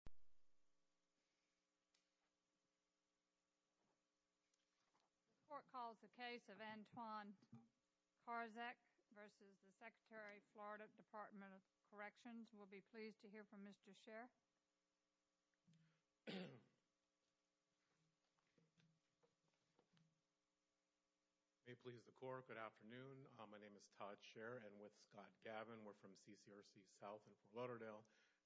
We will be pleased to hear from Mr. Scherr. May it please the Court, good afternoon. My name is Todd Scherr and with Scott Gavin. We're from CCRC South in Fort Lauderdale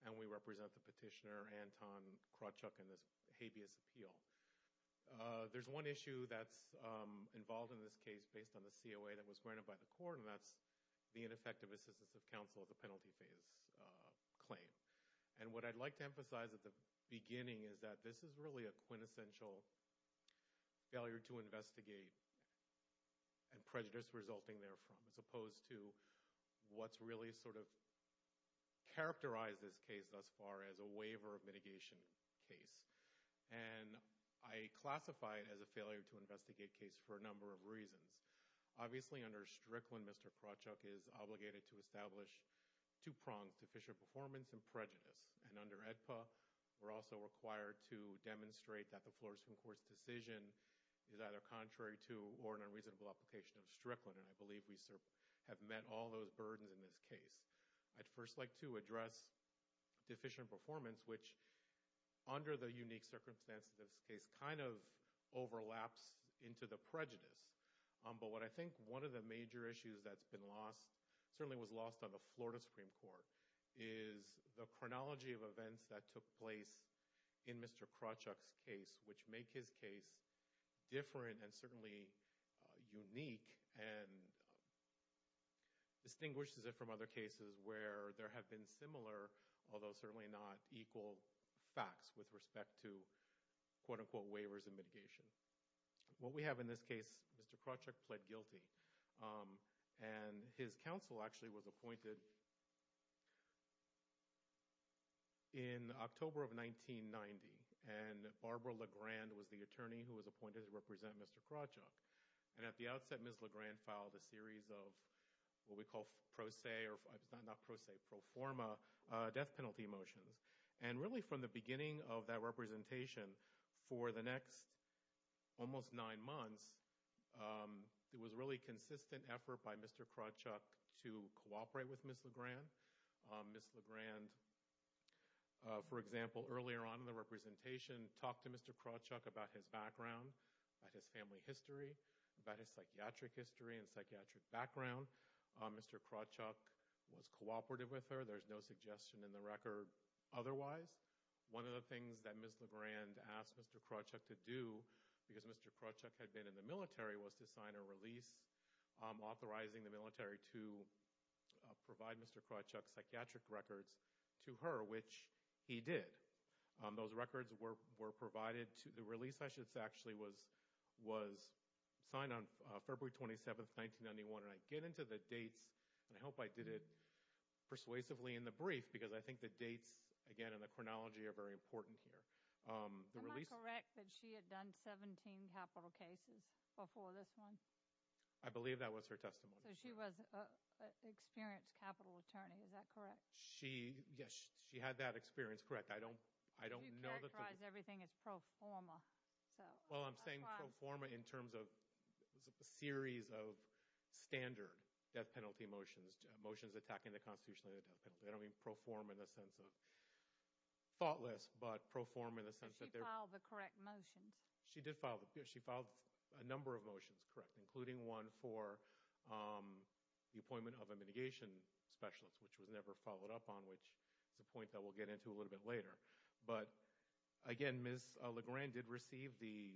and we represent the petitioner Anton Krawczuk in this habeas appeal. There's one issue that's involved in this case based on the COA that was granted by the Court and that's the ineffective assistance of counsel of the penalty phase claim. And what I'd like to emphasize at the beginning is that this is really a quintessential failure to investigate and prejudice resulting therefrom as opposed to what's really sort of characterized this case thus far as a waiver of mitigation case. And I classify it as a failure to investigate case for a number of reasons. Obviously, under Strickland, Mr. Krawczuk is obligated to establish two prongs, deficient performance and prejudice. And under AEDPA, we're also required to demonstrate that the Florida Supreme Court's decision is either contrary to or an unreasonable application of Strickland. And I believe we have met all those burdens in this case. I'd first like to address deficient performance, which under the unique circumstances of this case, kind of overlaps into the prejudice. But what I think one of the major issues that's been lost, certainly was lost on the Florida Supreme Court, is the chronology of events that took place in Mr. Krawczuk's case, which make his case different and certainly unique and distinguishes it from other cases where there have been similar, although certainly not equal, facts with respect to quote-unquote waivers and mitigation. What we have in this case, Mr. Krawczuk pled guilty. And his counsel actually was appointed in October of 1990. And Barbara Legrand was the attorney who was appointed to represent Mr. Krawczuk. And at the outset, Ms. Legrand filed a series of what we call pro se or not pro se, pro forma death penalty motions. And really from the beginning of that representation, for the next almost nine months, there was really consistent effort by Mr. Krawczuk to cooperate with Ms. Legrand. Ms. Legrand, for example, earlier on in the representation, talked to Mr. Krawczuk about his background, about his family history, about his psychiatric history and psychiatric background. Mr. Krawczuk was cooperative with her. There's no suggestion in the record otherwise. One of the things that Ms. Legrand asked Mr. Krawczuk to do, because Mr. Krawczuk had been in the military, was to sign a release authorizing the military to provide Mr. Krawczuk's psychiatric records to her, which he did. Those records were provided. The release actually was signed on February 27, 1991. And I get into the dates, and I hope I did it persuasively in the brief, because I think the dates, again, and the chronology are very important here. Am I correct that she had done 17 capital cases before this one? I believe that was her testimony. So she was an experienced capital attorney. Is that correct? Yes, she had that experience. Correct. You characterize everything as pro forma. Well, I'm saying pro forma in terms of a series of standard death penalty motions, motions attacking the constitution of the death penalty. I don't mean pro forma in the sense of thoughtless, but pro forma in the sense that they're- Did she file the correct motions? She did file a number of motions, correct, including one for the appointment of a mitigation specialist, which was never followed up on, which is a point that we'll get into a little bit later. But, again, Ms. Legrand did receive the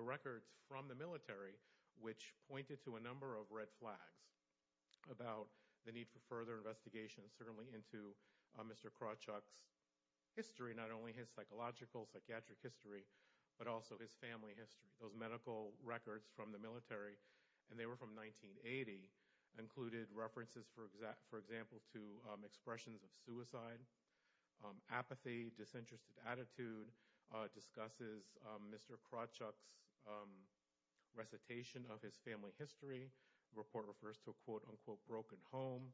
records from the military, which pointed to a number of red flags about the need for further investigation, certainly into Mr. Krawchuk's history, not only his psychological, psychiatric history, but also his family history. Those medical records from the military, and they were from 1980, included references, for example, to expressions of suicide, apathy, disinterested attitude, discusses Mr. Krawchuk's recitation of his family history. The report refers to a, quote, unquote, broken home,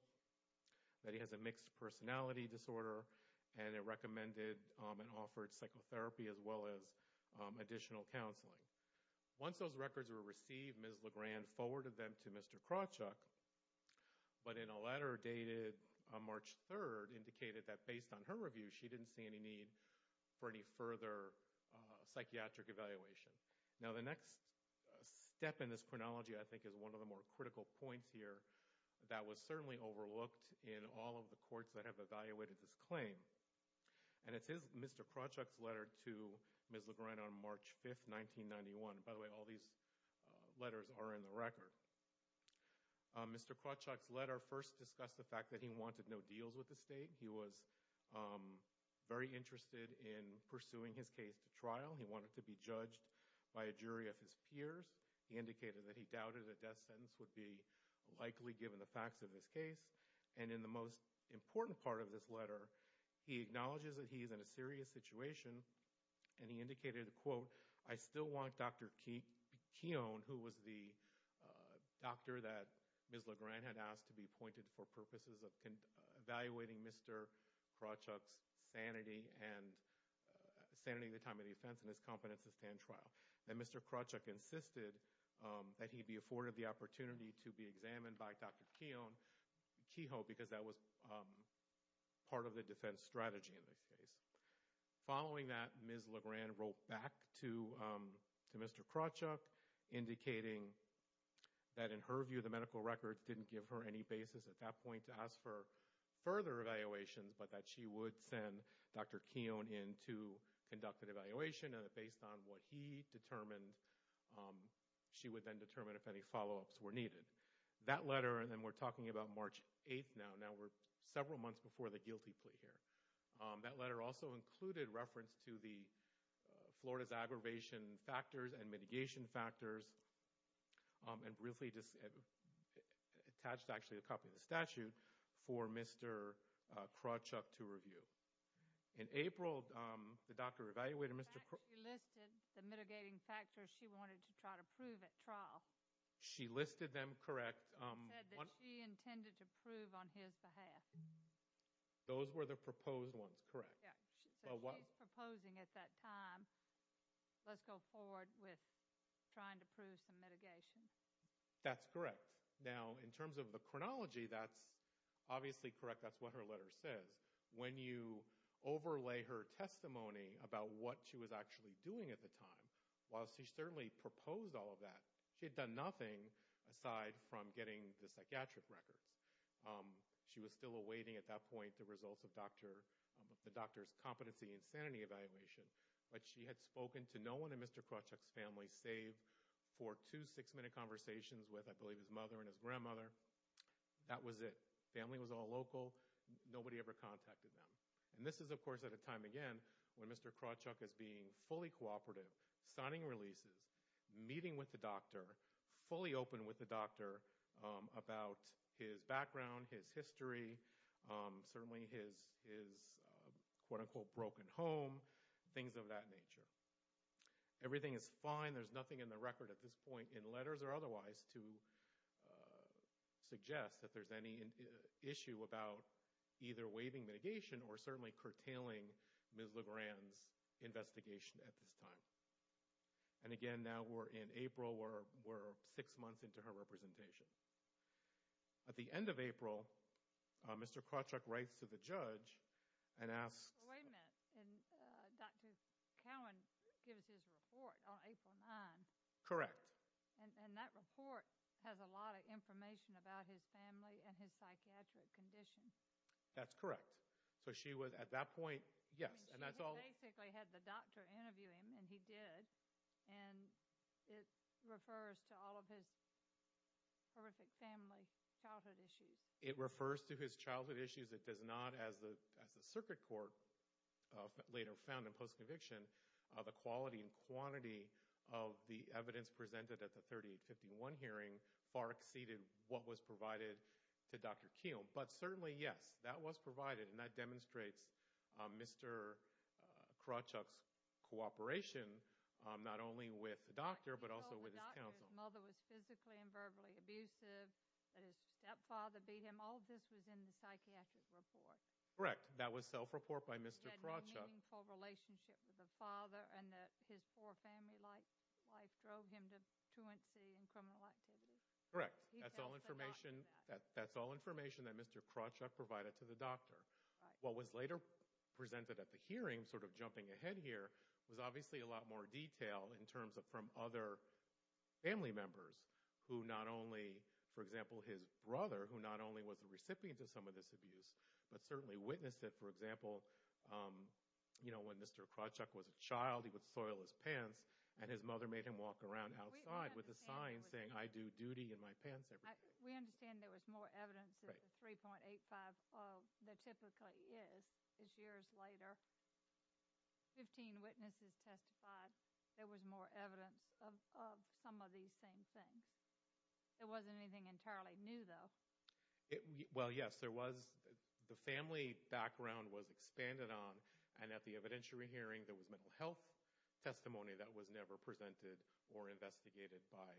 that he has a mixed personality disorder, and it recommended and offered psychotherapy as well as additional counseling. Once those records were received, Ms. Legrand forwarded them to Mr. Krawchuk, but in a letter dated March 3rd indicated that, based on her review, she didn't see any need for any further psychiatric evaluation. Now, the next step in this chronology, I think, is one of the more critical points here that was certainly overlooked in all of the courts that have evaluated this claim, and it's Mr. Krawchuk's letter to Ms. Legrand on March 5th, 1991. By the way, all these letters are in the record. Mr. Krawchuk's letter first discussed the fact that he wanted no deals with the state. He was very interested in pursuing his case to trial. He wanted to be judged by a jury of his peers. He indicated that he doubted a death sentence would be likely, given the facts of his case. And in the most important part of this letter, he acknowledges that he is in a serious situation, and he indicated, quote, I still want Dr. Keown, who was the doctor that Ms. Legrand had asked to be appointed for purposes of evaluating Mr. Krawchuk's sanity and the time of defense and his competence to stand trial. And Mr. Krawchuk insisted that he be afforded the opportunity to be examined by Dr. Keown, Kehoe, because that was part of the defense strategy in this case. Following that, Ms. Legrand wrote back to Mr. Krawchuk, indicating that in her view the medical records didn't give her any basis at that point to ask for further evaluations, but that she would send Dr. Keown in to conduct an evaluation, and that based on what he determined, she would then determine if any follow-ups were needed. That letter, and then we're talking about March 8th now. Now we're several months before the guilty plea here. That letter also included reference to the Florida's aggravation factors and mitigation factors, and briefly attached actually a copy of the statute for Mr. Krawchuk to review. In April, the doctor evaluated Mr. Krawchuk. In fact, she listed the mitigating factors she wanted to try to prove at trial. She listed them, correct. She said that she intended to prove on his behalf. Those were the proposed ones, correct. Yeah, so she's proposing at that time, let's go forward with trying to prove some mitigation. That's correct. Now in terms of the chronology, that's obviously correct. That's what her letter says. When you overlay her testimony about what she was actually doing at the time, while she certainly proposed all of that, she had done nothing aside from getting the psychiatric records. She was still awaiting at that point the results of the doctor's competency and sanity evaluation, but she had spoken to no one in Mr. Krawchuk's family save for two six-minute conversations with, I believe, his mother and his grandmother. That was it. Family was all local. Nobody ever contacted them. And this is, of course, at a time again when Mr. Krawchuk is being fully cooperative, signing releases, meeting with the doctor, fully open with the doctor about his background, his history, certainly his quote-unquote broken home, things of that nature. Everything is fine. There's nothing in the record at this point in letters or otherwise to suggest that there's any issue about either waiving mitigation or certainly curtailing Ms. Legrand's investigation at this time. And again, now we're in April. We're six months into her representation. At the end of April, Mr. Krawchuk writes to the judge and asks— Wait a minute. Dr. Cowan gives his report on April 9th. Correct. And that report has a lot of information about his family and his psychiatric condition. That's correct. So she was at that point—yes, and that's all— She basically had the doctor interview him, and he did, and it refers to all of his horrific family childhood issues. It refers to his childhood issues. It does not, as the circuit court later found in post-conviction, the quality and quantity of the evidence presented at the 3851 hearing far exceeded what was provided to Dr. Kiel. But certainly, yes, that was provided, and that demonstrates Mr. Krawchuk's cooperation not only with the doctor but also with his counsel. He told the doctor his mother was physically and verbally abusive, that his stepfather beat him. All of this was in the psychiatric report. Correct. That was self-report by Mr. Krawchuk. He had no meaningful relationship with the father and that his poor family-like wife drove him to truancy and criminal activity. Correct. He tells the doctor that. That's all information that Mr. Krawchuk provided to the doctor. What was later presented at the hearing, sort of jumping ahead here, was obviously a lot more detail in terms of from other family members who not only— for example, his brother, who not only was the recipient of some of this abuse but certainly witnessed it. For example, you know, when Mr. Krawchuk was a child, he would soil his pants, and his mother made him walk around outside with a sign saying, I do duty in my pants every day. We understand there was more evidence of the 3.85 than typically is. As years later, 15 witnesses testified there was more evidence of some of these same things. There wasn't anything entirely new, though. Well, yes, there was. The family background was expanded on, and at the evidentiary hearing there was mental health testimony that was never presented or investigated by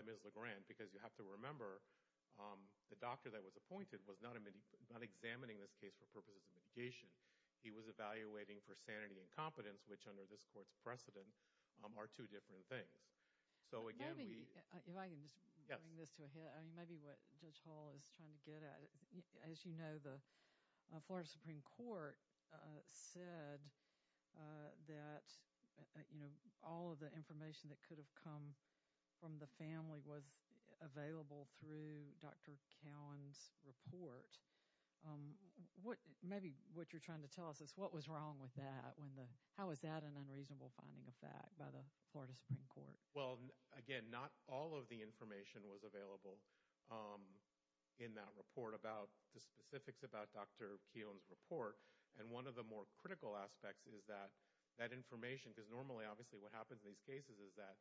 Ms. LeGrand. Because you have to remember, the doctor that was appointed was not examining this case for purposes of mitigation. He was evaluating for sanity and competence, which under this court's precedent are two different things. So again, we— Maybe, if I can just bring this to a head. Yes. As you know, the Florida Supreme Court said that, you know, all of the information that could have come from the family was available through Dr. Cowan's report. Maybe what you're trying to tell us is what was wrong with that? How is that an unreasonable finding of fact by the Florida Supreme Court? Well, again, not all of the information was available in that report about the specifics about Dr. Cowan's report. And one of the more critical aspects is that that information—because normally, obviously, what happens in these cases is that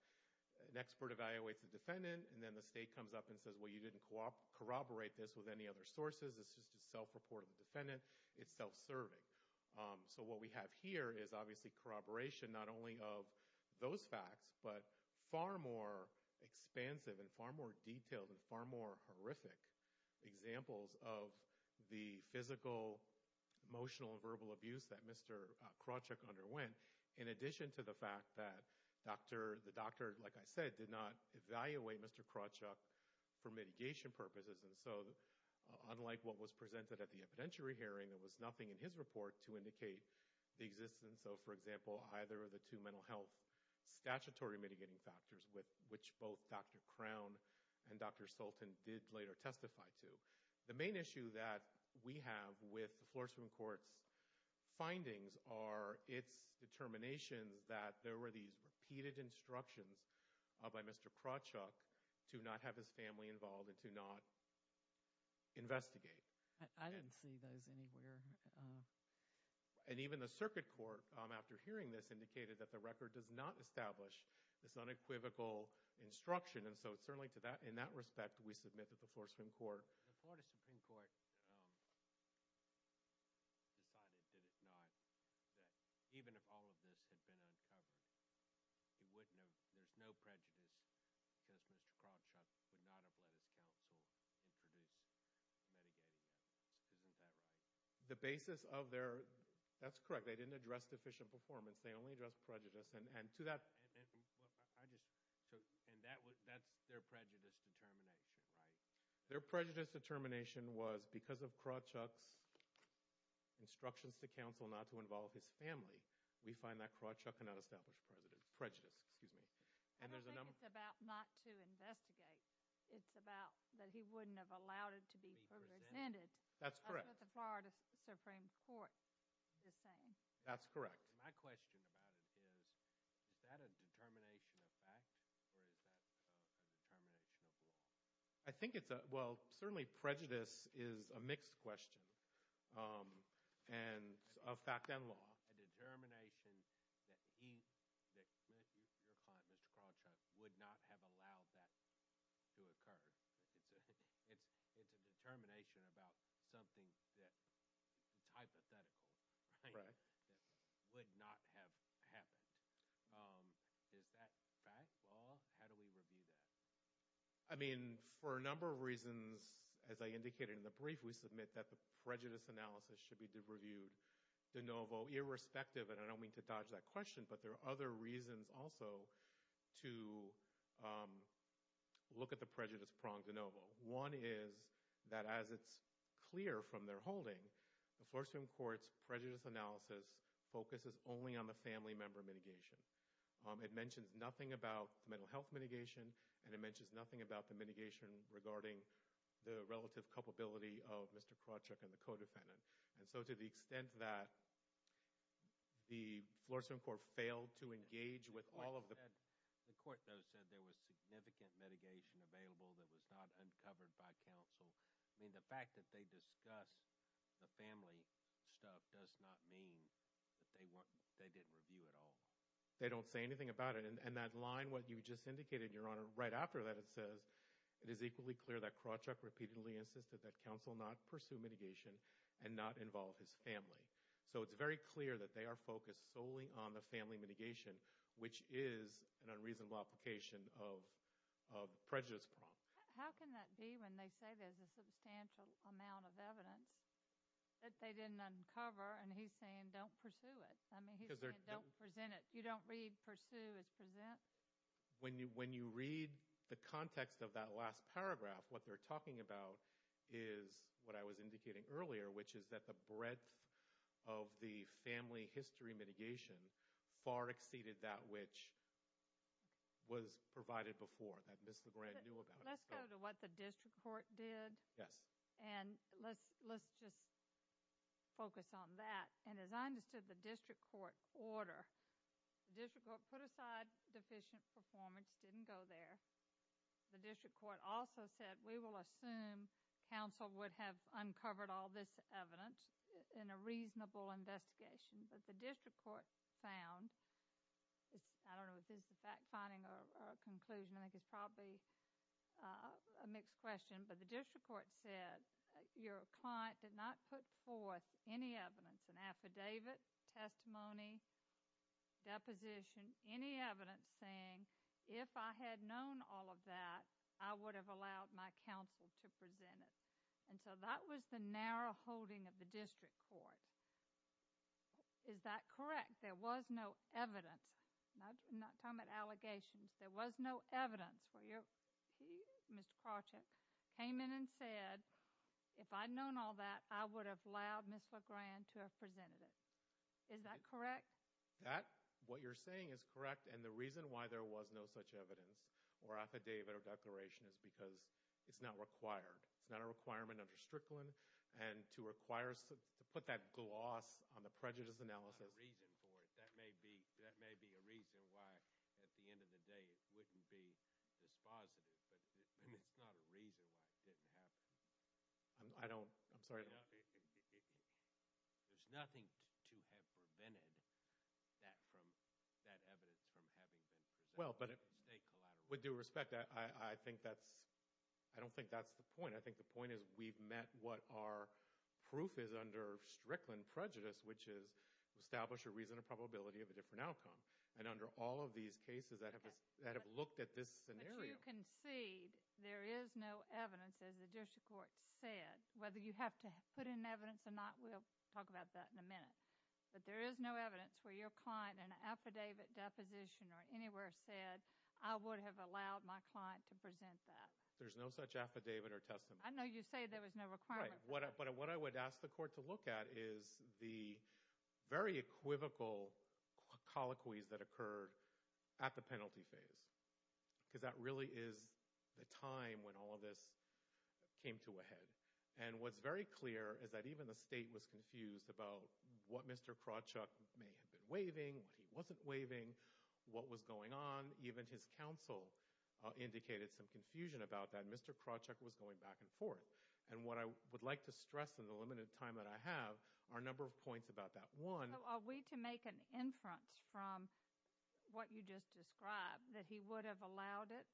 an expert evaluates the defendant, and then the state comes up and says, well, you didn't corroborate this with any other sources. It's just a self-report of the defendant. It's self-serving. So what we have here is obviously corroboration not only of those facts, but far more expansive and far more detailed and far more horrific examples of the physical, emotional, and verbal abuse that Mr. Krawchuk underwent, in addition to the fact that the doctor, like I said, did not evaluate Mr. Krawchuk for mitigation purposes. And so unlike what was presented at the evidentiary hearing, there was nothing in his report to indicate the existence of, for example, either of the two mental health statutory mitigating factors, which both Dr. Crown and Dr. Sultan did later testify to. The main issue that we have with the Florida Supreme Court's findings are its determinations that there were these repeated instructions by Mr. Krawchuk to not have his family involved and to not investigate. I didn't see those anywhere. And even the circuit court, after hearing this, indicated that the record does not establish this unequivocal instruction. And so certainly in that respect, we submit that the Florida Supreme Court decided, did it not, that even if all of this had been uncovered, there's no prejudice because Mr. Krawchuk would not have let his counsel introduce mitigating factors. Isn't that right? The basis of their – that's correct. They didn't address deficient performance. They only addressed prejudice. And to that – And that's their prejudice determination, right? Their prejudice determination was because of Krawchuk's instructions to counsel not to involve his family, we find that Krawchuk cannot establish prejudice. And there's a number – I don't think it's about not to investigate. It's about that he wouldn't have allowed it to be presented. That's correct. That's what the Florida Supreme Court is saying. That's correct. My question about it is, is that a determination of fact or is that a determination of law? I think it's a – well, certainly prejudice is a mixed question of fact and law. It's a determination that he – that your client, Mr. Krawchuk, would not have allowed that to occur. It's a determination about something that's hypothetical, right, that would not have happened. Is that fact, law? How do we review that? I mean, for a number of reasons, as I indicated in the brief, we submit that the prejudice analysis should be reviewed de novo, irrespective – and I don't mean to dodge that question, but there are other reasons also to look at the prejudice prong de novo. One is that as it's clear from their holding, the Florida Supreme Court's prejudice analysis focuses only on the family member mitigation. It mentions nothing about the mental health mitigation, and it mentions nothing about the mitigation regarding the relative culpability of Mr. Krawchuk and the co-defendant. And so to the extent that the Florida Supreme Court failed to engage with all of the – The court, though, said there was significant mitigation available that was not uncovered by counsel. I mean, the fact that they discuss the family stuff does not mean that they didn't review at all. They don't say anything about it. And that line, what you just indicated, Your Honor, right after that it says, it is equally clear that Krawchuk repeatedly insisted that counsel not pursue mitigation and not involve his family. So it's very clear that they are focused solely on the family mitigation, which is an unreasonable application of prejudice prong. How can that be when they say there's a substantial amount of evidence that they didn't uncover, and he's saying don't pursue it? I mean, he's saying don't present it. You don't read pursue as present? When you read the context of that last paragraph, what they're talking about is what I was indicating earlier, which is that the breadth of the family history mitigation far exceeded that which was provided before, that Ms. Legrand knew about. Let's go to what the district court did. Yes. And let's just focus on that. And as I understood the district court order, the district court put aside deficient performance, didn't go there. The district court also said we will assume counsel would have uncovered all this evidence in a reasonable investigation. But the district court found, I don't know if this is a fact finding or a conclusion. I think it's probably a mixed question. But the district court said your client did not put forth any evidence, an affidavit, testimony, deposition, any evidence saying if I had known all of that, I would have allowed my counsel to present it. And so that was the narrow holding of the district court. Is that correct? There was no evidence. I'm not talking about allegations. There was no evidence where he, Mr. Krawcheck, came in and said if I had known all that, I would have allowed Ms. Legrand to have presented it. Is that correct? What you're saying is correct. And the reason why there was no such evidence or affidavit or declaration is because it's not required. It's not a requirement under Strickland. And to put that gloss on the prejudice analysis. I have a reason for it. That may be a reason why at the end of the day it wouldn't be dispositive. But it's not a reason why it didn't happen. I don't. I'm sorry. There's nothing to have prevented that from, that evidence from having been presented. With due respect, I think that's, I don't think that's the point. I think the point is we've met what our proof is under Strickland prejudice, which is establish a reason and probability of a different outcome. And under all of these cases that have looked at this scenario. But you concede there is no evidence, as the district court said, whether you have to put in evidence or not. We'll talk about that in a minute. But there is no evidence where your client in an affidavit deposition or anywhere said, I would have allowed my client to present that. There's no such affidavit or testimony. I know you say there was no requirement. Right. But what I would ask the court to look at is the very equivocal colloquies that occurred at the penalty phase. Because that really is the time when all of this came to a head. And what's very clear is that even the state was confused about what Mr. Krawchuk may have been waiving, what he wasn't waiving, what was going on. Even his counsel indicated some confusion about that. Mr. Krawchuk was going back and forth. And what I would like to stress in the limited time that I have are a number of points about that. One. Are we to make an inference from what you just described that he would have allowed it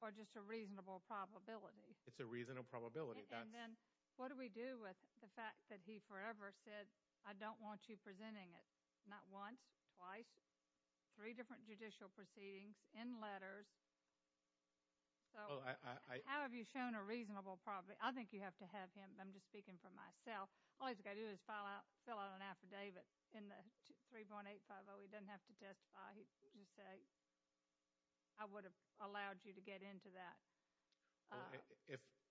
or just a reasonable probability? It's a reasonable probability. And then what do we do with the fact that he forever said, I don't want you presenting it? Not once. Twice. Three different judicial proceedings. In letters. How have you shown a reasonable probability? I think you have to have him. I'm just speaking for myself. All he's got to do is fill out an affidavit in the 3.850. He doesn't have to testify. He can just say, I would have allowed you to get into that.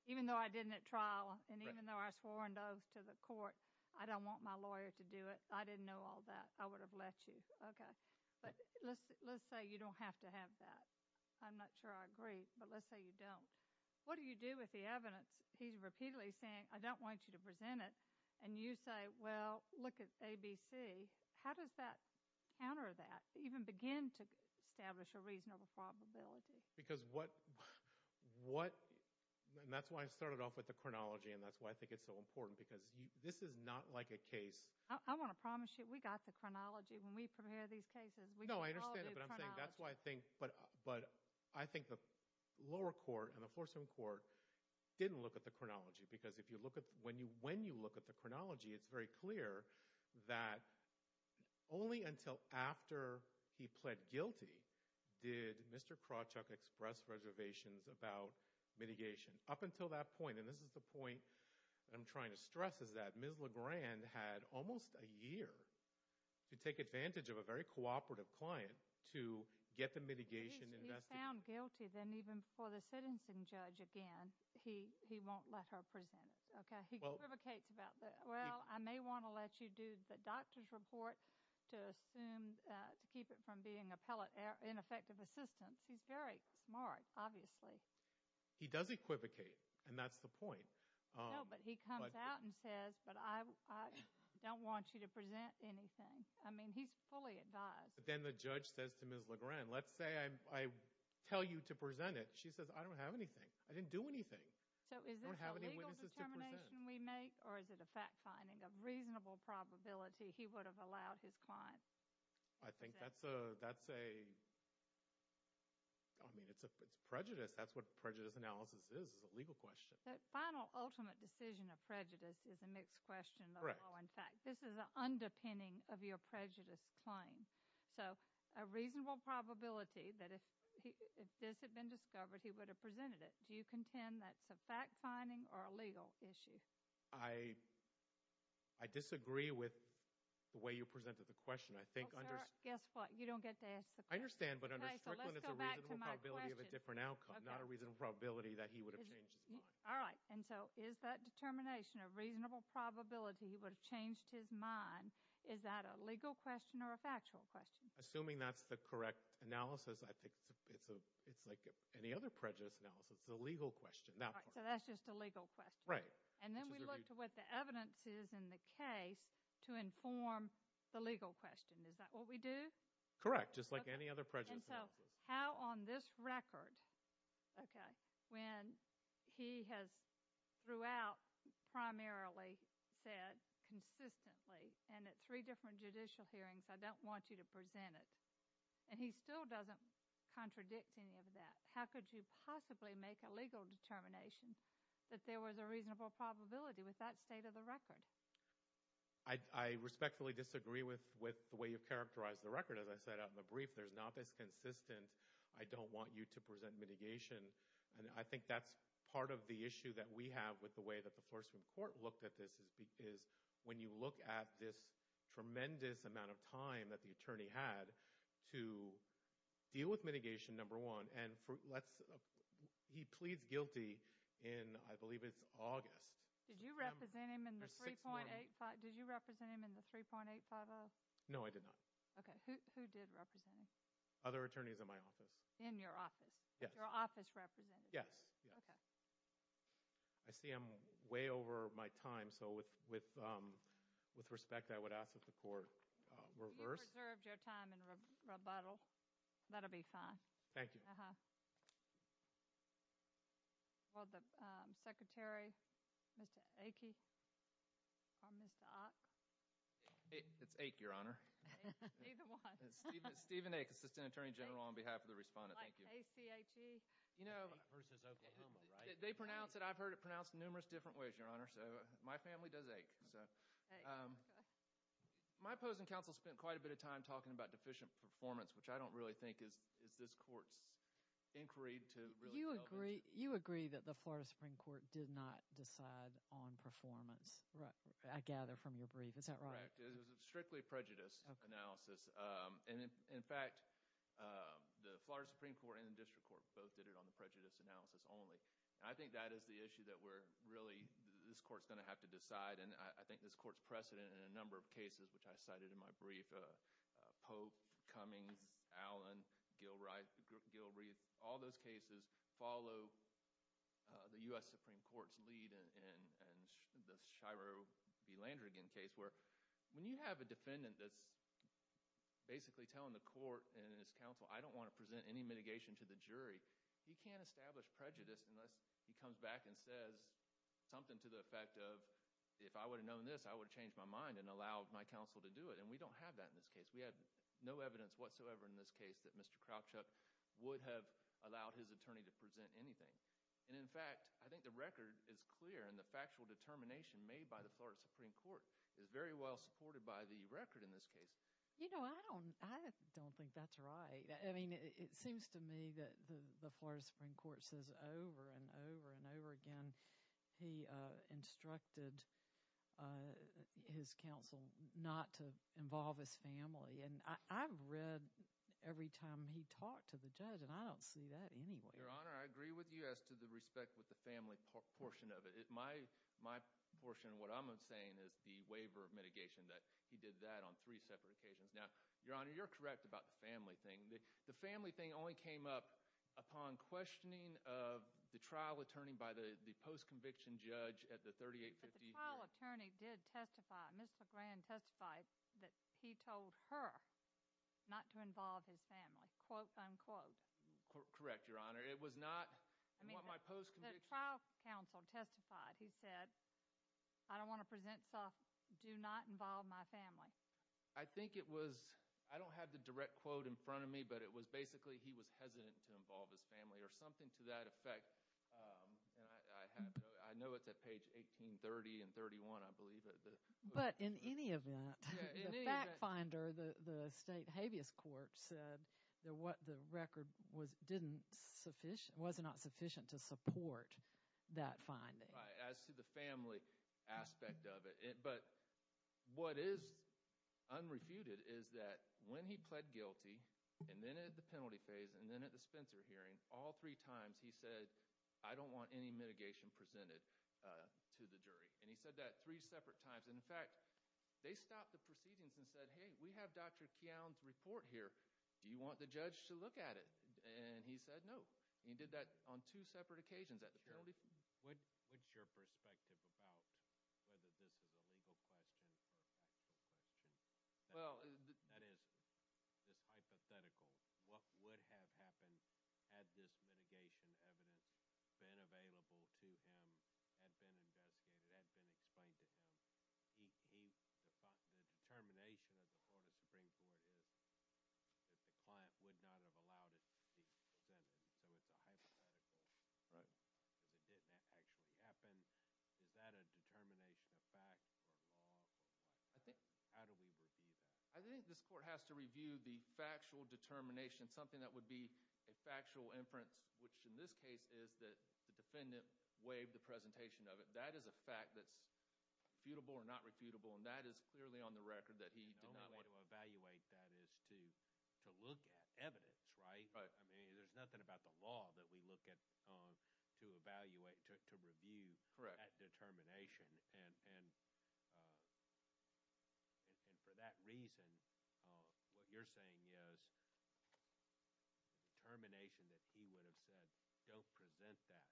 Even though I didn't at trial and even though I swore an oath to the court, I don't want my lawyer to do it. I didn't know all that. I would have let you. Okay. But let's say you don't have to have that. I'm not sure I agree. But let's say you don't. What do you do with the evidence? He's repeatedly saying, I don't want you to present it. And you say, well, look at ABC. How does that counter that? Even begin to establish a reasonable probability? Because what – and that's why I started off with the chronology and that's why I think it's so important. Because this is not like a case. I want to promise you we got the chronology when we prepare these cases. No, I understand it. But I'm saying that's why I think – but I think the lower court and the Floor Service Court didn't look at the chronology. Because if you look at – when you look at the chronology, it's very clear that only until after he pled guilty did Mr. Krawchuk express reservations about mitigation. Up until that point, and this is the point I'm trying to stress, is that Ms. LeGrand had almost a year to take advantage of a very cooperative client to get the mitigation investigated. If he's found guilty, then even for the sentencing judge, again, he won't let her present it. Okay? He equivocates about that. Well, I may want to let you do the doctor's report to assume – to keep it from being ineffective assistance. He's very smart, obviously. He does equivocate, and that's the point. No, but he comes out and says, but I don't want you to present anything. I mean, he's fully advised. But then the judge says to Ms. LeGrand, let's say I tell you to present it. She says, I don't have anything. I didn't do anything. So, is this a legal determination we make, or is it a fact finding of reasonable probability he would have allowed his client? I think that's a – I mean, it's prejudice. That's what prejudice analysis is, is a legal question. That final, ultimate decision of prejudice is a mixed question, though, in fact. This is an underpinning of your prejudice claim. So, a reasonable probability that if this had been discovered, he would have presented it. Do you contend that's a fact finding or a legal issue? I disagree with the way you presented the question. Well, sir, guess what? You don't get to ask the question. I understand, but under Strickland, it's a reasonable probability of a different outcome, not a reasonable probability that he would have changed his mind. All right, and so is that determination of reasonable probability he would have changed his mind, is that a legal question or a factual question? Assuming that's the correct analysis, I think it's like any other prejudice analysis. It's a legal question. All right, so that's just a legal question. Right. And then we look to what the evidence is in the case to inform the legal question. Is that what we do? Correct, just like any other prejudice analysis. And so how on this record, okay, when he has throughout primarily said consistently, and at three different judicial hearings, I don't want you to present it, and he still doesn't contradict any of that, how could you possibly make a legal determination that there was a reasonable probability with that state of the record? I respectfully disagree with the way you've characterized the record. As I said out in the brief, there's not this consistent, I don't want you to present mitigation. And I think that's part of the issue that we have with the way that the Floristroom Court looked at this, is when you look at this tremendous amount of time that the attorney had to deal with mitigation, number one, and he pleads guilty in, I believe it's August. Did you represent him in the 3.850? No, I did not. Okay, who did represent him? Other attorneys in my office. In your office? Yes. Your office represented him? Yes. Okay. I see I'm way over my time, so with respect, I would ask that the court reverse. You preserved your time in rebuttal. That will be fine. Thank you. Uh-huh. Will the Secretary, Mr. Achey, or Mr. Ack? It's Ache, Your Honor. Either one. Steven Ache, Assistant Attorney General on behalf of the respondent. Thank you. Like A-C-H-E. You know, they pronounce it, I've heard it pronounced numerous different ways, Your Honor, so my family does Ache. My opposing counsel spent quite a bit of time talking about deficient performance, which I don't really think is this court's inquiry to really delve into. You agree that the Florida Supreme Court did not decide on performance, I gather, from your brief. Is that right? Correct. It was a strictly prejudice analysis, and in fact, the Florida Supreme Court and the District Court both did it on the prejudice analysis only. I think that is the issue that we're really, this court's going to have to decide, and I think this court's precedent in a number of cases, which I cited in my brief. Pope, Cummings, Allen, Gilreath, all those cases follow the U.S. Supreme Court's lead in the Shiro v. Landrigan case, where when you have a defendant that's basically telling the court and his counsel, I don't want to present any mitigation to the jury, he can't establish prejudice unless he comes back and says something to the effect of, if I would have known this, I would have changed my mind and allowed my counsel to do it. And we don't have that in this case. We have no evidence whatsoever in this case that Mr. Kropchak would have allowed his attorney to present anything. And in fact, I think the record is clear, and the factual determination made by the Florida Supreme Court is very well supported by the record in this case. You know, I don't think that's right. I mean, it seems to me that the Florida Supreme Court says over and over and over again he instructed his counsel not to involve his family. And I've read every time he talked to the judge, and I don't see that anywhere. Your Honor, I agree with you as to the respect with the family portion of it. My portion of what I'm saying is the waiver of mitigation, that he did that on three separate occasions. Now, Your Honor, you're correct about the family thing. The family thing only came up upon questioning of the trial attorney by the post-conviction judge at the 3850. But the trial attorney did testify. Ms. LeGrand testified that he told her not to involve his family, quote, unquote. Correct, Your Honor. It was not what my post-conviction. The trial counsel testified. He said, I don't want to present stuff. Do not involve my family. I think it was – I don't have the direct quote in front of me, but it was basically he was hesitant to involve his family or something to that effect. And I know it's at page 1830 and 1831, I believe. But in any event, the fact finder, the state habeas court, said that what the record was not sufficient to support that finding. Right, as to the family aspect of it. But what is unrefuted is that when he pled guilty and then at the penalty phase and then at the Spencer hearing, all three times he said, I don't want any mitigation presented to the jury. And he said that three separate times. And, in fact, they stopped the proceedings and said, hey, we have Dr. Keown's report here. Do you want the judge to look at it? And he said no. He did that on two separate occasions at the penalty phase. What's your perspective about whether this is a legal question or a factual question? That is, this hypothetical. What would have happened had this mitigation evidence been available to him, had been investigated, had been explained to him? The determination of the Florida Supreme Court is that the client would not have allowed it to be presented. So it's a hypothetical because it didn't actually happen. Is that a determination of fact or law or what? How do we review that? I think this court has to review the factual determination, something that would be a factual inference, which in this case is that the defendant waived the presentation of it. That is a fact that's refutable or not refutable. And that is clearly on the record that he did not want to evaluate that is to look at evidence. There's nothing about the law that we look at to evaluate, to review that determination. And for that reason, what you're saying is the determination that he would have said don't present that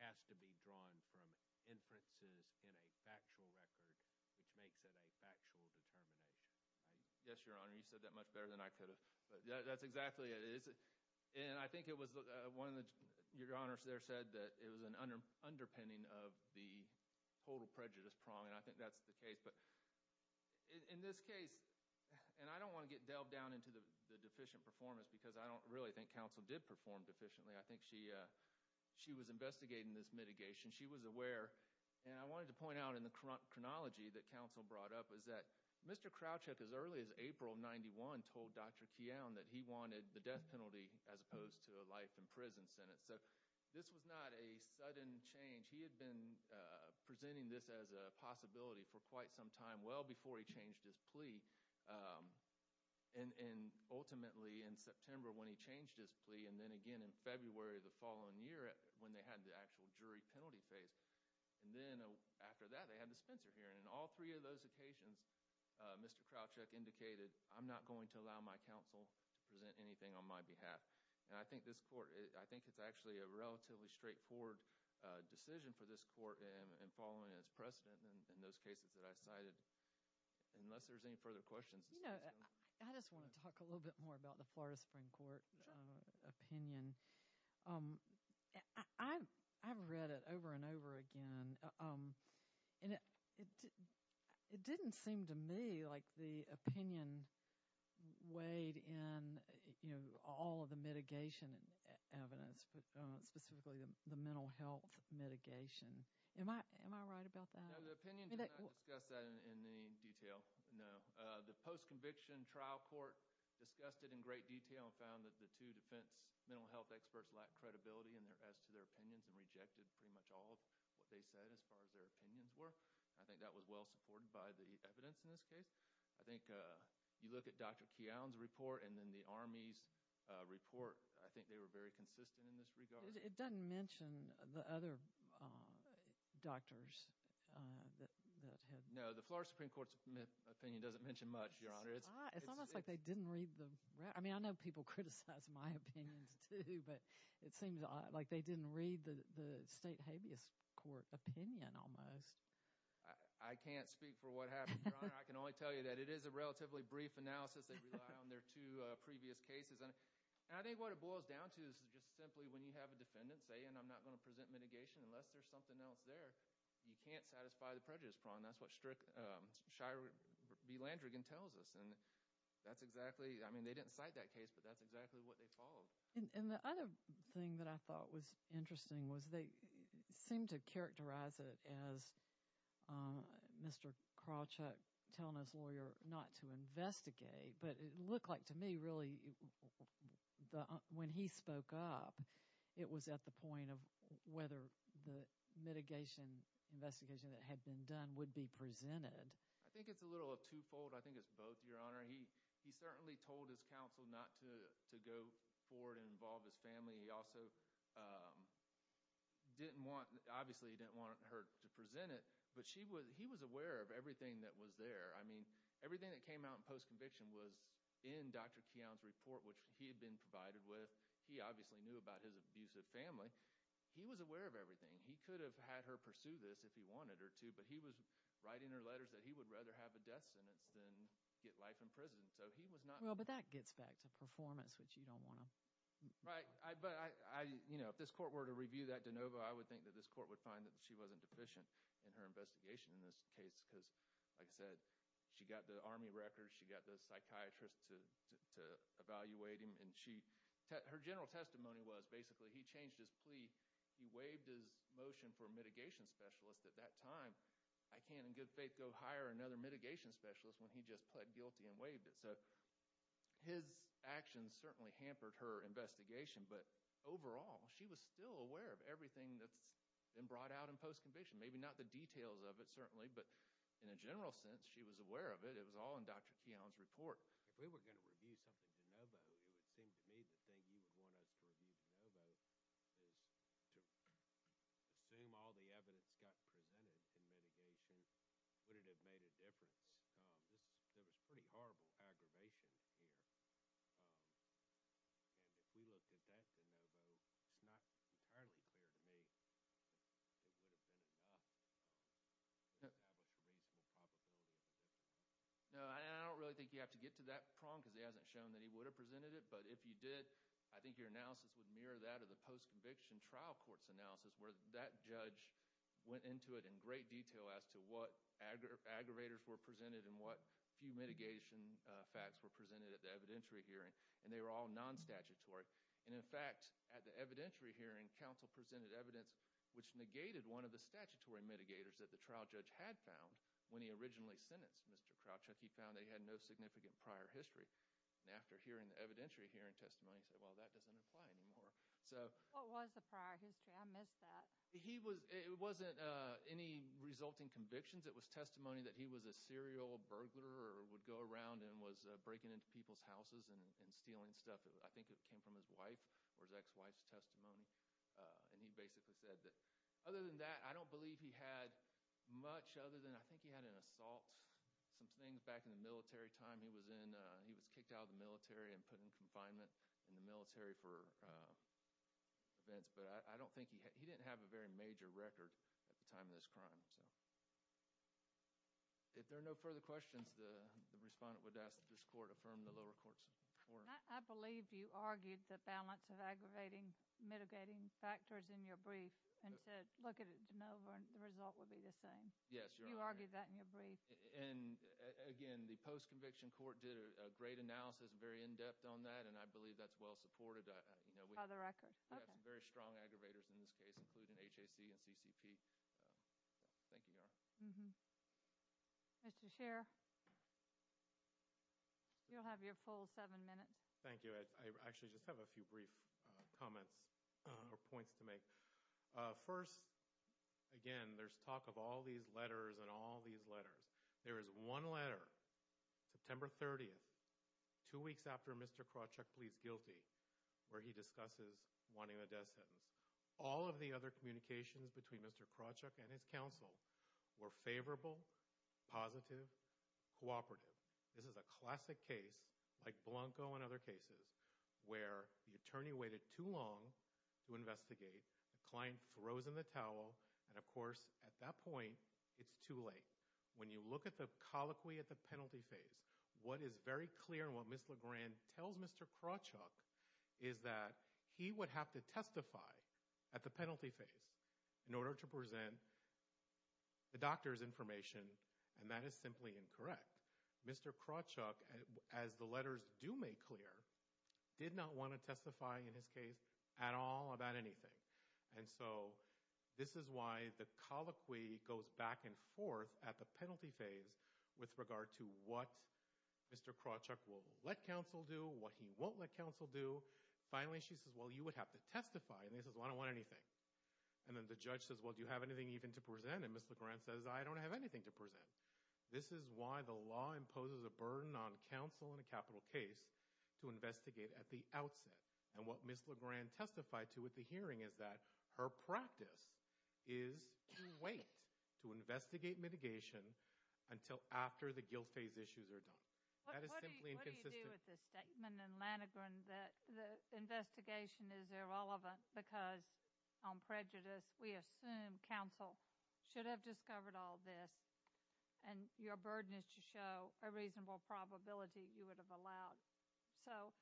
has to be drawn from inferences in a factual record, which makes it a factual determination. Yes, Your Honor. You said that much better than I could have. But that's exactly it. And I think it was one of the—Your Honor there said that it was an underpinning of the total prejudice prong. And I think that's the case. But in this case—and I don't want to get delved down into the deficient performance because I don't really think counsel did perform deficiently. I think she was investigating this mitigation. She was aware. And I wanted to point out in the chronology that counsel brought up is that Mr. Krawcheck, as early as April of 91, told Dr. Keown that he wanted the death penalty as opposed to a life in prison sentence. So this was not a sudden change. He had been presenting this as a possibility for quite some time, well before he changed his plea. And ultimately in September, when he changed his plea, and then again in February of the following year when they had the actual jury penalty phase. And then after that, they had the Spencer hearing. And in all three of those occasions, Mr. Krawcheck indicated, I'm not going to allow my counsel to present anything on my behalf. And I think this court—I think it's actually a relatively straightforward decision for this court in following its precedent in those cases that I cited. Unless there's any further questions. You know, I just want to talk a little bit more about the Florida Supreme Court opinion. I've read it over and over again. And it didn't seem to me like the opinion weighed in all of the mitigation evidence, specifically the mental health mitigation. Am I right about that? No, the opinion did not discuss that in any detail, no. The post-conviction trial court discussed it in great detail and found that the two defense mental health experts lacked credibility as to their opinions and rejected pretty much all of what they said as far as their opinions were. I think that was well supported by the evidence in this case. I think you look at Dr. Keown's report and then the Army's report. I think they were very consistent in this regard. It doesn't mention the other doctors that had— No, the Florida Supreme Court's opinion doesn't mention much, Your Honor. It's almost like they didn't read the— I mean, I know people criticize my opinions too, but it seems like they didn't read the state habeas court opinion almost. I can't speak for what happened, Your Honor. I can only tell you that it is a relatively brief analysis. They rely on their two previous cases. And I think what it boils down to is just simply when you have a defendant saying, I'm not going to present mitigation unless there's something else there, you can't satisfy the prejudice prong. That's what Shira B. Landrigan tells us. And that's exactly—I mean, they didn't cite that case, but that's exactly what they followed. And the other thing that I thought was interesting was they seemed to characterize it as Mr. Krawchuk telling his lawyer not to investigate, but it looked like to me really when he spoke up, it was at the point of whether the mitigation investigation that had been done would be presented. I think it's a little twofold. I think it's both, Your Honor. He certainly told his counsel not to go forward and involve his family. He also didn't want—obviously he didn't want her to present it, but he was aware of everything that was there. I mean, everything that came out in post-conviction was in Dr. Keown's report, which he had been provided with. He obviously knew about his abusive family. He was aware of everything. He could have had her pursue this if he wanted her to, but he was writing her letters that he would rather have a death sentence than get life in prison. So he was not— Well, but that gets back to performance, which you don't want to— Right, but if this court were to review that de novo, I would think that this court would find that she wasn't deficient in her investigation in this case because, like I said, she got the Army records, she got the psychiatrist to evaluate him, and her general testimony was basically he changed his plea. He waived his motion for mitigation specialist at that time. I can't in good faith go hire another mitigation specialist when he just pled guilty and waived it. So his actions certainly hampered her investigation, but overall she was still aware of everything that's been brought out in post-conviction. Maybe not the details of it, certainly, but in a general sense she was aware of it. It was all in Dr. Keown's report. If we were going to review something de novo, it would seem to me the thing you would want us to review de novo is to assume all the evidence got presented in mitigation. Would it have made a difference? There was pretty horrible aggravation here, and if we looked at that de novo, it's not entirely clear to me that it would have been enough to establish a reasonable probability of a difference. No, I don't really think you have to get to that prong because he hasn't shown that he would have presented it, but if you did, I think your analysis would mirror that of the post-conviction trial court's analysis where that judge went into it in great detail as to what aggravators were presented and what few mitigation facts were presented at the evidentiary hearing, and they were all non-statutory. In fact, at the evidentiary hearing, counsel presented evidence which negated one of the statutory mitigators that the trial judge had found when he originally sentenced Mr. Krawchuk. He found that he had no significant prior history, and after hearing the evidentiary hearing testimony, he said, well, that doesn't apply anymore. What was the prior history? I missed that. It wasn't any resulting convictions. It was testimony that he was a serial burglar or would go around and was breaking into people's houses and stealing stuff. I think it came from his wife or his ex-wife's testimony, and he basically said that other than that, I don't believe he had much other than I think he had an assault, some things back in the military time. He was kicked out of the military and put in confinement in the military for events, but I don't think he hadóhe didn't have a very major record at the time of this crime. If there are no further questions, the respondent would ask that this court affirm the lower court's report. I believe you argued the balance of aggravating, mitigating factors in your brief and said look at it de novo and the result would be the same. Yes, Your Honor. You argued that in your brief. Again, the post-conviction court did a great analysis, very in-depth on that, and I believe that's well supported. By the record. We have some very strong aggravators in this case, including HAC and CCP. Thank you, Your Honor. Mr. Scheer, you'll have your full seven minutes. Thank you. I actually just have a few brief comments or points to make. First, again, there's talk of all these letters and all these letters. There is one letter, September 30th, two weeks after Mr. Krawchuk pleads guilty, where he discusses wanting a death sentence. All of the other communications between Mr. Krawchuk and his counsel were favorable, positive, cooperative. This is a classic case, like Blanco and other cases, where the attorney waited too long to investigate, the client throws in the towel, and, of course, at that point, it's too late. When you look at the colloquy at the penalty phase, what is very clear and what Ms. LeGrand tells Mr. Krawchuk is that he would have to testify at the penalty phase in order to present the doctor's information, and that is simply incorrect. Mr. Krawchuk, as the letters do make clear, did not want to testify in his case at all about anything. And so this is why the colloquy goes back and forth at the penalty phase with regard to what Mr. Krawchuk will let counsel do, what he won't let counsel do. Finally, she says, well, you would have to testify. And he says, well, I don't want anything. And then the judge says, well, do you have anything even to present? And Ms. LeGrand says, I don't have anything to present. This is why the law imposes a burden on counsel in a capital case to investigate at the outset. And what Ms. LeGrand testified to at the hearing is that her practice is to wait, to investigate mitigation until after the guilt phase issues are done. That is simply inconsistent. What do you do with the statement in Lanegren that the investigation is irrelevant because on prejudice we assume counsel should have discovered all this and your burden is to show a reasonable probability you would have allowed. So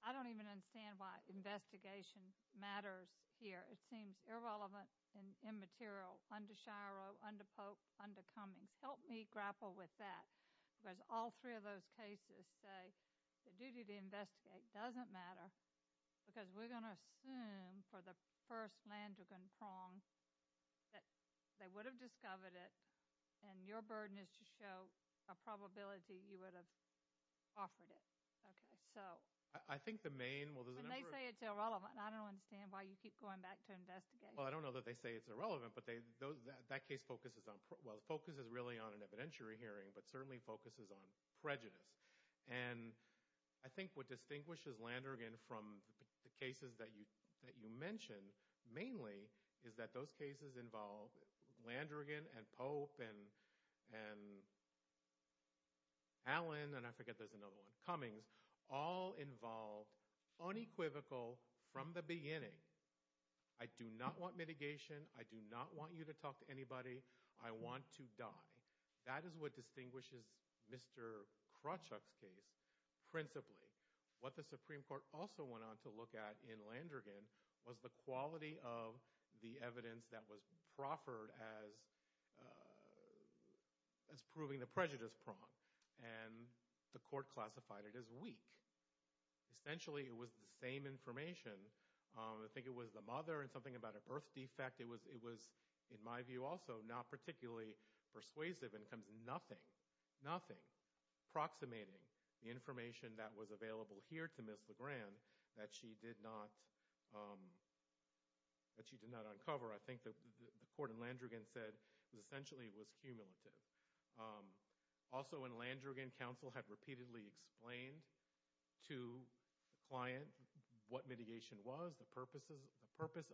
I don't even understand why investigation matters here. It seems irrelevant and immaterial under Shiro, under Pope, under Cummings. Help me grapple with that because all three of those cases say the duty to investigate doesn't matter because we're going to assume for the first Langergan prong that they would have discovered it and your burden is to show a probability you would have offered it. Okay, so. I think the main, well, there's a number of. When they say it's irrelevant, I don't understand why you keep going back to investigate. Well, I don't know that they say it's irrelevant, but that case focuses on, well, it focuses really on an evidentiary hearing, but certainly focuses on prejudice. And I think what distinguishes Langergan from the cases that you mentioned mainly is that those cases involve Langergan and Pope and Allen, and I forget there's another one, Cummings, all involved unequivocal from the beginning. I do not want mitigation. I do not want you to talk to anybody. I want to die. That is what distinguishes Mr. Krawchuk's case principally. What the Supreme Court also went on to look at in Langergan was the quality of the evidence that was proffered as proving the prejudice prong, and the court classified it as weak. Essentially, it was the same information. I think it was the mother and something about a birth defect. In fact, it was, in my view also, not particularly persuasive when it comes to nothing, nothing approximating the information that was available here to Ms. LeGrand that she did not uncover. I think that the court in Langergan said essentially it was cumulative. Also in Langergan, counsel had repeatedly explained to the client what mitigation was, the purpose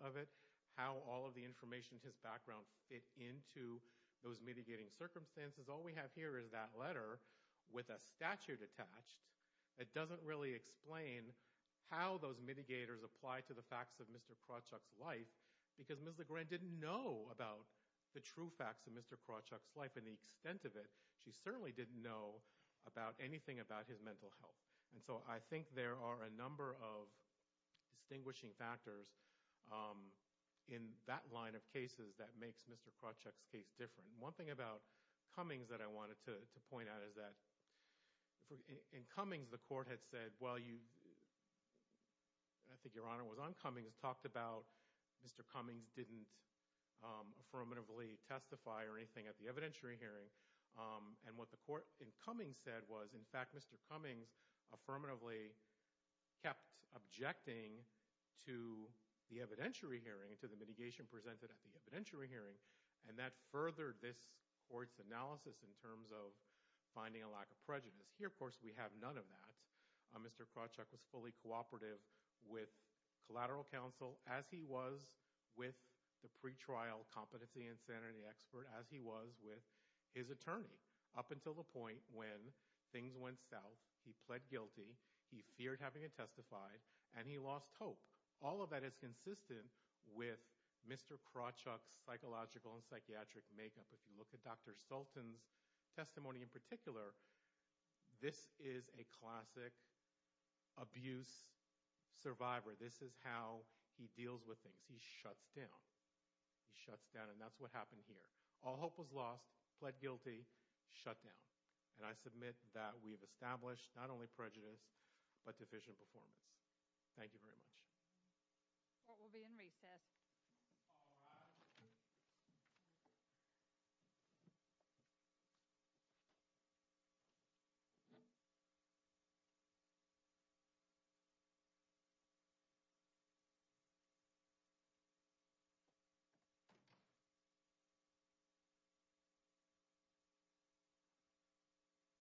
of it, how all of the information in his background fit into those mitigating circumstances. All we have here is that letter with a statute attached that doesn't really explain how those mitigators apply to the facts of Mr. Krawchuk's life because Ms. LeGrand didn't know about the true facts of Mr. Krawchuk's life and the extent of it. She certainly didn't know about anything about his mental health. I think there are a number of distinguishing factors in that line of cases that makes Mr. Krawchuk's case different. One thing about Cummings that I wanted to point out is that in Cummings, the court had said, well, I think Your Honor was on Cummings, talked about Mr. Cummings didn't affirmatively testify or anything at the evidentiary hearing. What the court in Cummings said was, in fact, Mr. Cummings affirmatively kept objecting to the evidentiary hearing, to the mitigation presented at the evidentiary hearing, and that furthered this court's analysis in terms of finding a lack of prejudice. Here, of course, we have none of that. Mr. Krawchuk was fully cooperative with collateral counsel as he was with the pretrial competency and sanity expert, as he was with his attorney up until the point when things went south, he pled guilty, he feared having it testified, and he lost hope. All of that is consistent with Mr. Krawchuk's psychological and psychiatric makeup. If you look at Dr. Sultan's testimony in particular, this is a classic abuse survivor. This is how he deals with things. He shuts down. He shuts down, and that's what happened here. All hope was lost, pled guilty, shut down. And I submit that we've established not only prejudice but deficient performance. Thank you very much. Court will be in recess. Thank you.